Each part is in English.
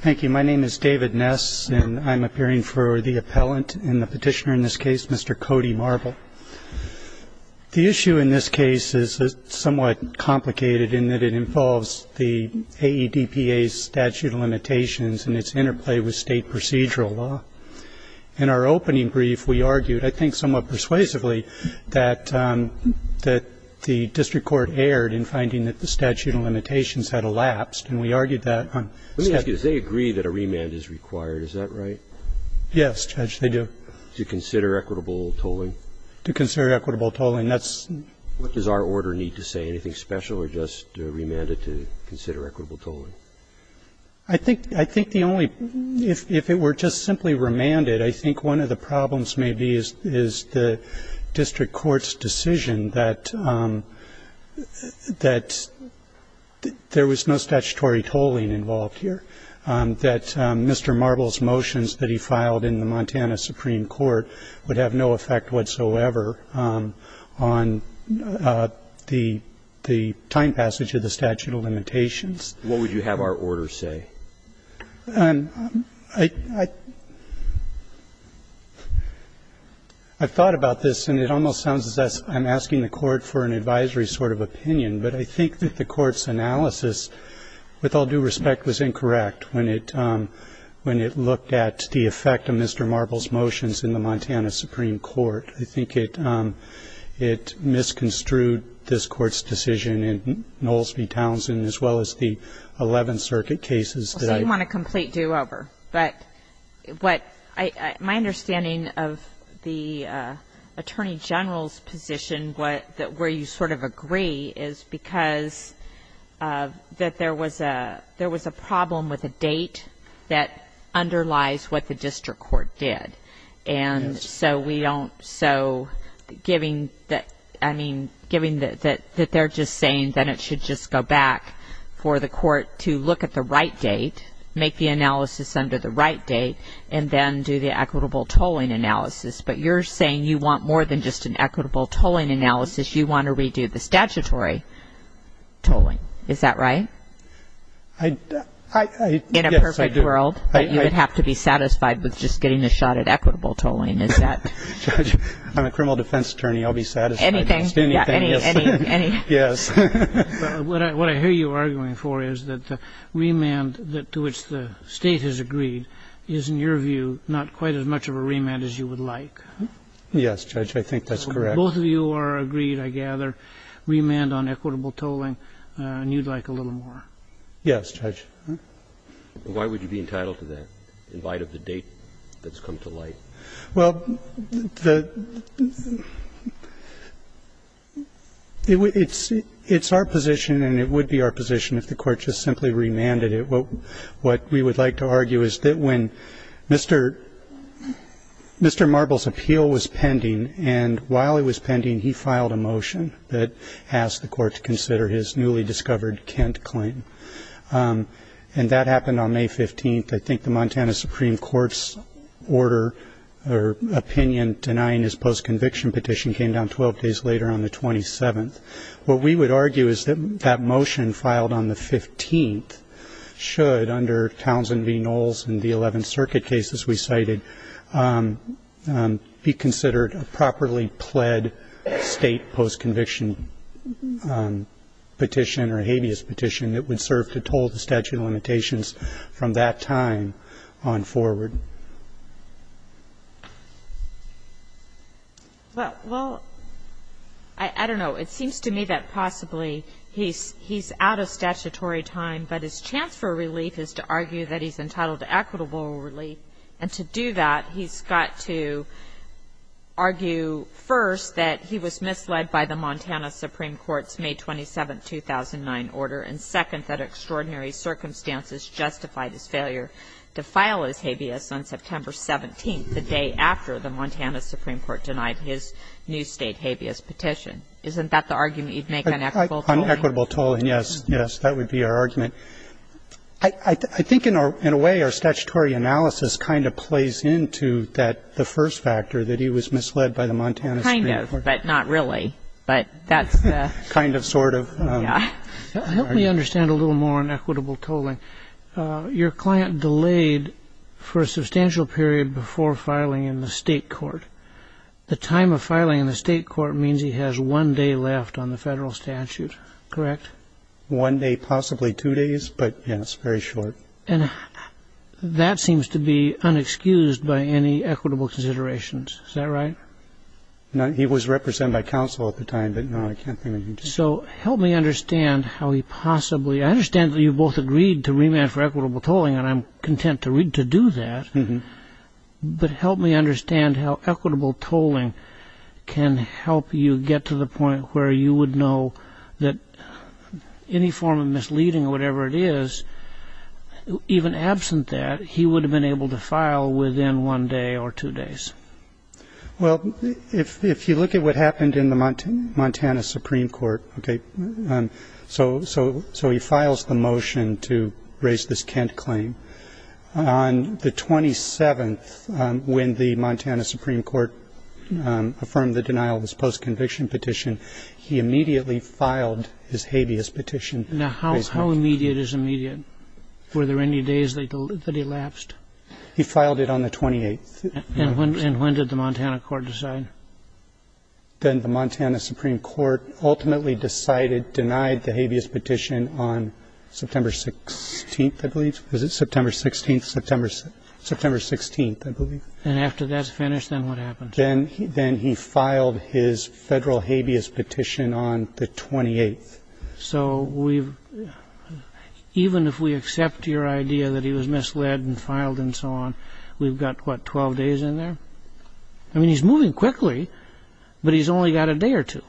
Thank you. My name is David Ness and I'm appearing for the appellant and the petitioner in this case, Mr. Cody Marble. The issue in this case is somewhat complicated in that it involves the AEDPA's statute of limitations and its interplay with state procedural law. In our opening brief, we argued, I think somewhat persuasively, that the district court erred in finding that the statute of limitations had elapsed. And we argued that on statute of limitations. Roberts. Let me ask you, does they agree that a remand is required, is that right? Yes, Judge, they do. To consider equitable tolling? To consider equitable tolling. What does our order need to say? Anything special or just remanded to consider equitable tolling? I think the only, if it were just simply remanded, I think one of the problems may be is the district court's decision that there was no statutory tolling involved here, that Mr. Marble's motions that he filed in the Montana Supreme Court would have no effect whatsoever on the time passage of the statute of limitations. What would you have our order say? I've thought about this, and it almost sounds as if I'm asking the Court for an advisory sort of opinion, but I think that the Court's analysis, with all due respect, was incorrect when it looked at the effect of Mr. Marble's motions in the Montana Supreme Court. I think it misconstrued this Court's decision in Knowles v. Townsend as well as the Eleventh Circuit cases that I've... Well, so you want a complete do-over. But my understanding of the Attorney General's position, where you sort of agree, is because that there was a problem with a date that underlies what the district court did. And so we don't... So giving that... I mean, giving that they're just saying that it should just go back for the court to look at the right date, make the analysis under the right date, and then do the equitable tolling analysis. But you're saying you want more than just an equitable tolling analysis. You want to redo the statutory tolling. Is that right? I... Yes, I do. I'm a criminal defense attorney. I'll be satisfied. Anything. Anything. Yes. What I hear you arguing for is that the remand to which the State has agreed is, in your view, not quite as much of a remand as you would like. Yes, Judge, I think that's correct. Both of you are agreed, I gather, remand on equitable tolling, and you'd like a little more. Yes, Judge. Why would you be entitled to remand? Why would you be entitled to that, in light of the date that's come to light? Well, the... It's our position, and it would be our position if the Court just simply remanded it. What we would like to argue is that when Mr. Marble's appeal was pending, and while it was pending, he filed a motion that asked the Court to consider his newly discovered Kent claim. And that happened on May 15th. I think the Montana Supreme Court's order or opinion denying his postconviction petition came down 12 days later on the 27th. What we would argue is that that motion filed on the 15th should, under Townsend v. Knowles and the 11th Circuit cases we cited, be considered a properly pled state postconviction petition or habeas petition that would serve to toll the statute of limitations from that time on forward. Well, I don't know. It seems to me that possibly he's out of statutory time, but his chance for relief is to argue that he's entitled to equitable relief. And to do that, he's got to argue, first, that he was misled by the Montana Supreme Court's May 27th, 2009, order, and, second, that extraordinary circumstances justified his failure to file his habeas on September 17th, the day after the Montana Supreme Court denied his new state habeas petition. Isn't that the argument you'd make on equitable tolling? On equitable tolling, yes. Yes. That would be our argument. I think, in a way, our statutory analysis kind of plays into the first factor, that he was misled by the Montana Supreme Court. Kind of, but not really. Kind of, sort of. Yeah. Help me understand a little more on equitable tolling. Your client delayed for a substantial period before filing in the state court. The time of filing in the state court means he has one day left on the federal statute, correct? One day, possibly two days, but, yes, very short. And that seems to be unexcused by any equitable considerations. Is that right? No. He was represented by counsel at the time, but, no, I can't think of anything. So help me understand how he possibly – I understand that you both agreed to remand for equitable tolling, and I'm content to do that. But help me understand how equitable tolling can help you get to the point where you would know that any form of misleading or whatever it is, even absent that, he would have been able to file within one day or two days. Well, if you look at what happened in the Montana Supreme Court, okay, so he files the motion to raise this Kent claim. On the 27th, when the Montana Supreme Court affirmed the denial of his post-conviction petition, he immediately filed his habeas petition. Now, how immediate is immediate? Were there any days that he lapsed? He filed it on the 28th. And when did the Montana Court decide? Then the Montana Supreme Court ultimately decided, denied the habeas petition on September 16th, I believe. Was it September 16th? September 16th, I believe. And after that's finished, then what happens? Then he filed his federal habeas petition on the 28th. So even if we accept your idea that he was misled and filed and so on, we've got, what, 12 days in there? I mean, he's moving quickly, but he's only got a day or two.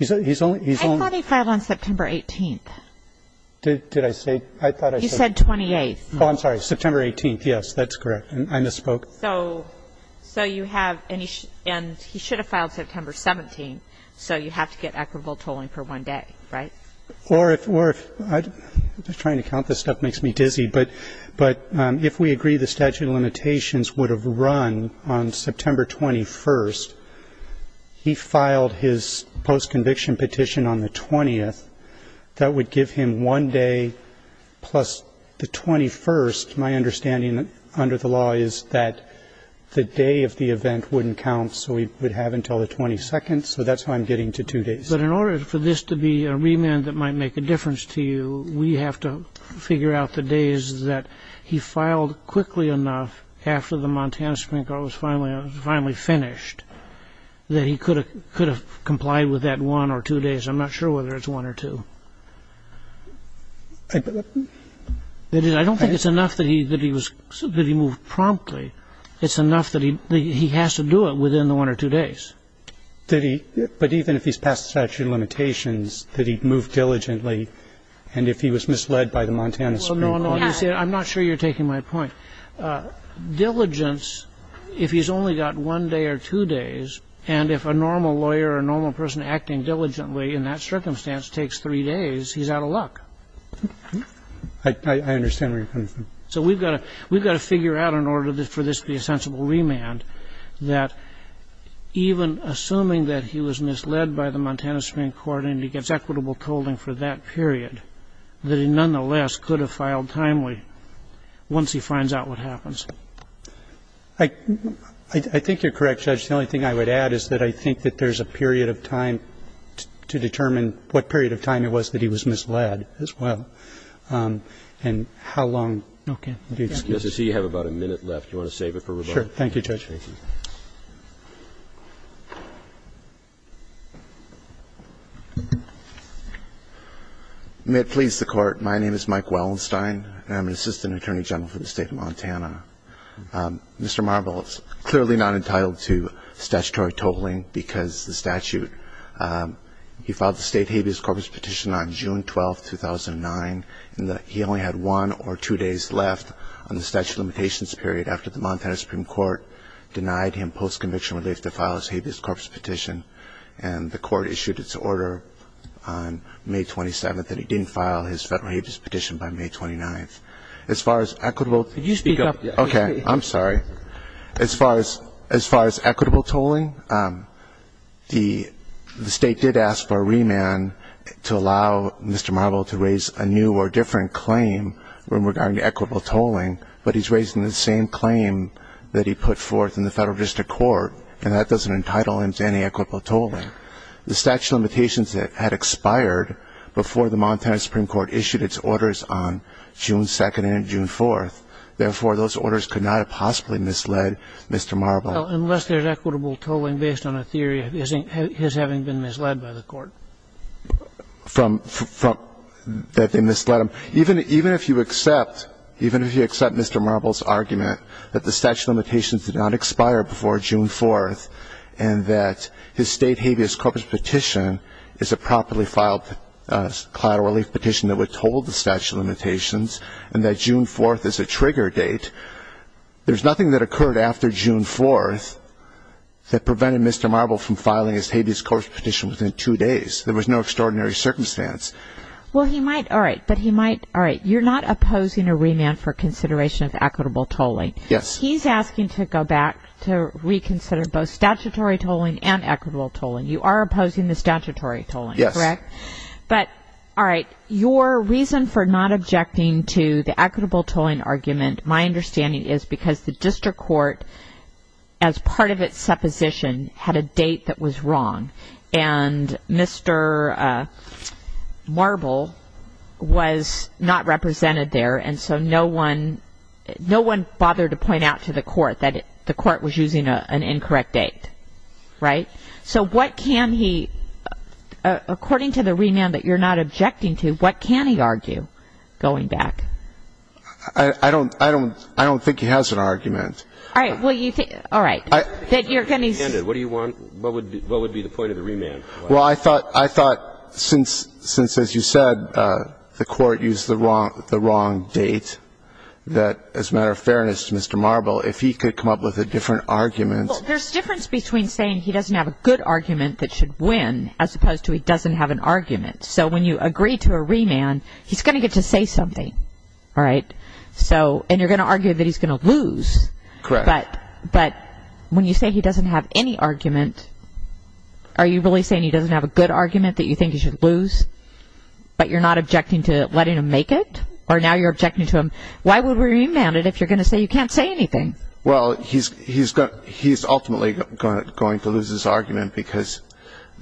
I thought he filed on September 18th. Did I say? He said 28th. Oh, I'm sorry, September 18th, yes, that's correct. I misspoke. So you have, and he should have filed September 17th, so you have to get equitable tolling for one day, right? Or if, I'm just trying to count this stuff, it makes me dizzy, but if we agree the statute of limitations would have run on September 21st, he filed his post-conviction petition on the 20th. That would give him one day plus the 21st. My understanding under the law is that the day of the event wouldn't count, so we would have until the 22nd, so that's why I'm getting to two days. But in order for this to be a remand that might make a difference to you, we have to figure out the days that he filed quickly enough after the Montana Supreme Court was finally finished that he could have complied with that one or two days. I'm not sure whether it's one or two. I don't think it's enough that he was, that he moved promptly. It's enough that he has to do it within the one or two days. Did he, but even if he's passed the statute of limitations, did he move diligently and if he was misled by the Montana Supreme Court? Well, no, I'm not sure you're taking my point. Diligence, if he's only got one day or two days, and if a normal lawyer or a normal person acting diligently in that circumstance takes three days, he's out of luck. I understand where you're coming from. So we've got to figure out in order for this to be a sensible remand that even assuming that he was misled by the Montana Supreme Court and he gets equitable tolling for that period, that he nonetheless could have filed timely once he finds out what happens. I think you're correct, Judge. The only thing I would add is that I think that there's a period of time to determine what period of time it was that he was misled as well and how long. Okay. Mr. C, you have about a minute left. Do you want to save it for rebuttal? Sure. Thank you, Judge. May it please the Court. My name is Mike Wellenstein, and I'm an assistant attorney general for the State of Montana. Mr. Marble is clearly not entitled to statutory tolling because the statute he filed the State habeas corpus petition on June 12th, 2009, and he only had one or two days left on the statute of limitations period after the Montana Supreme Court denied him postconviction relief to file his habeas corpus petition, and the Court issued its order on May 27th that he didn't file his federal habeas petition by May 29th. Could you speak up? Okay. I'm sorry. As far as equitable tolling, the State did ask for a remand to allow Mr. Marble to raise a new or different claim regarding equitable tolling, but he's raising the same claim that he put forth in the federal district court, and that doesn't entitle him to any equitable tolling. The statute of limitations had expired before the Montana Supreme Court issued its orders on June 2nd and June 4th. Therefore, those orders could not have possibly misled Mr. Marble. Well, unless there's equitable tolling based on a theory of his having been misled by the Court. That they misled him. Even if you accept Mr. Marble's argument that the statute of limitations did not expire before June 4th and that his State habeas corpus petition is a properly filed collateral relief petition that withholds the statute of limitations and that June 4th is a trigger date, there's nothing that occurred after June 4th that prevented Mr. Marble from filing his habeas corpus petition within two days. There was no extraordinary circumstance. Well, he might. All right. But he might. All right. You're not opposing a remand for consideration of equitable tolling. Yes. He's asking to go back to reconsider both statutory tolling and equitable tolling. You are opposing the statutory tolling, correct? Correct. But, all right, your reason for not objecting to the equitable tolling argument, my understanding is because the District Court, as part of its supposition, had a date that was wrong. And Mr. Marble was not represented there, and so no one bothered to point out to the Court that the Court was using an incorrect date. Right? So what can he, according to the remand that you're not objecting to, what can he argue going back? I don't think he has an argument. All right. All right. What do you want? What would be the point of the remand? Well, I thought since, as you said, the Court used the wrong date, that as a matter of fairness to Mr. Marble, if he could come up with a different argument. Well, there's a difference between saying he doesn't have a good argument that should win as opposed to he doesn't have an argument. So when you agree to a remand, he's going to get to say something, all right? And you're going to argue that he's going to lose. Correct. But when you say he doesn't have any argument, are you really saying he doesn't have a good argument that you think he should lose, but you're not objecting to letting him make it? Or now you're objecting to him. Why would we remand it if you're going to say you can't say anything? Well, he's ultimately going to lose his argument because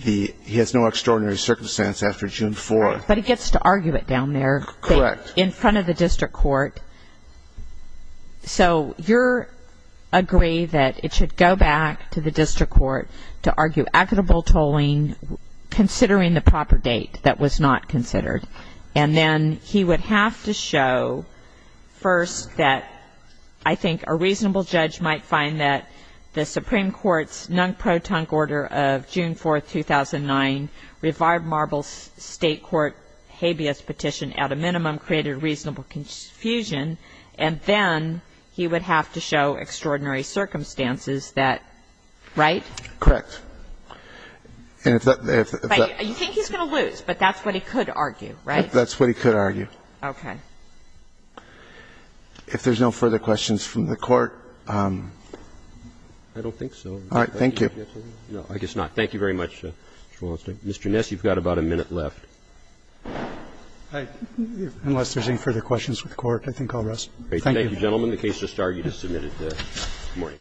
he has no extraordinary circumstance after June 4th. But he gets to argue it down there. Correct. In front of the district court. So you agree that it should go back to the district court to argue equitable tolling, considering the proper date that was not considered. And then he would have to show, first, that I think a reasonable judge might find that the Supreme Court's nunk-pro-tunk order of June 4th, 2009, revived Marble's State Court habeas petition at a minimum, created reasonable confusion, and then he would have to show extraordinary circumstances that, right? Correct. And if that's the case. I think he's going to lose, but that's what he could argue, right? That's what he could argue. Okay. If there's no further questions from the Court. I don't think so. All right. Thank you. No, I guess not. Thank you very much, Mr. Walensky. Mr. Ness, you've got about a minute left. Unless there's any further questions from the Court, I think I'll rest. Thank you. Thank you, gentlemen. The case is started. You just submitted this morning.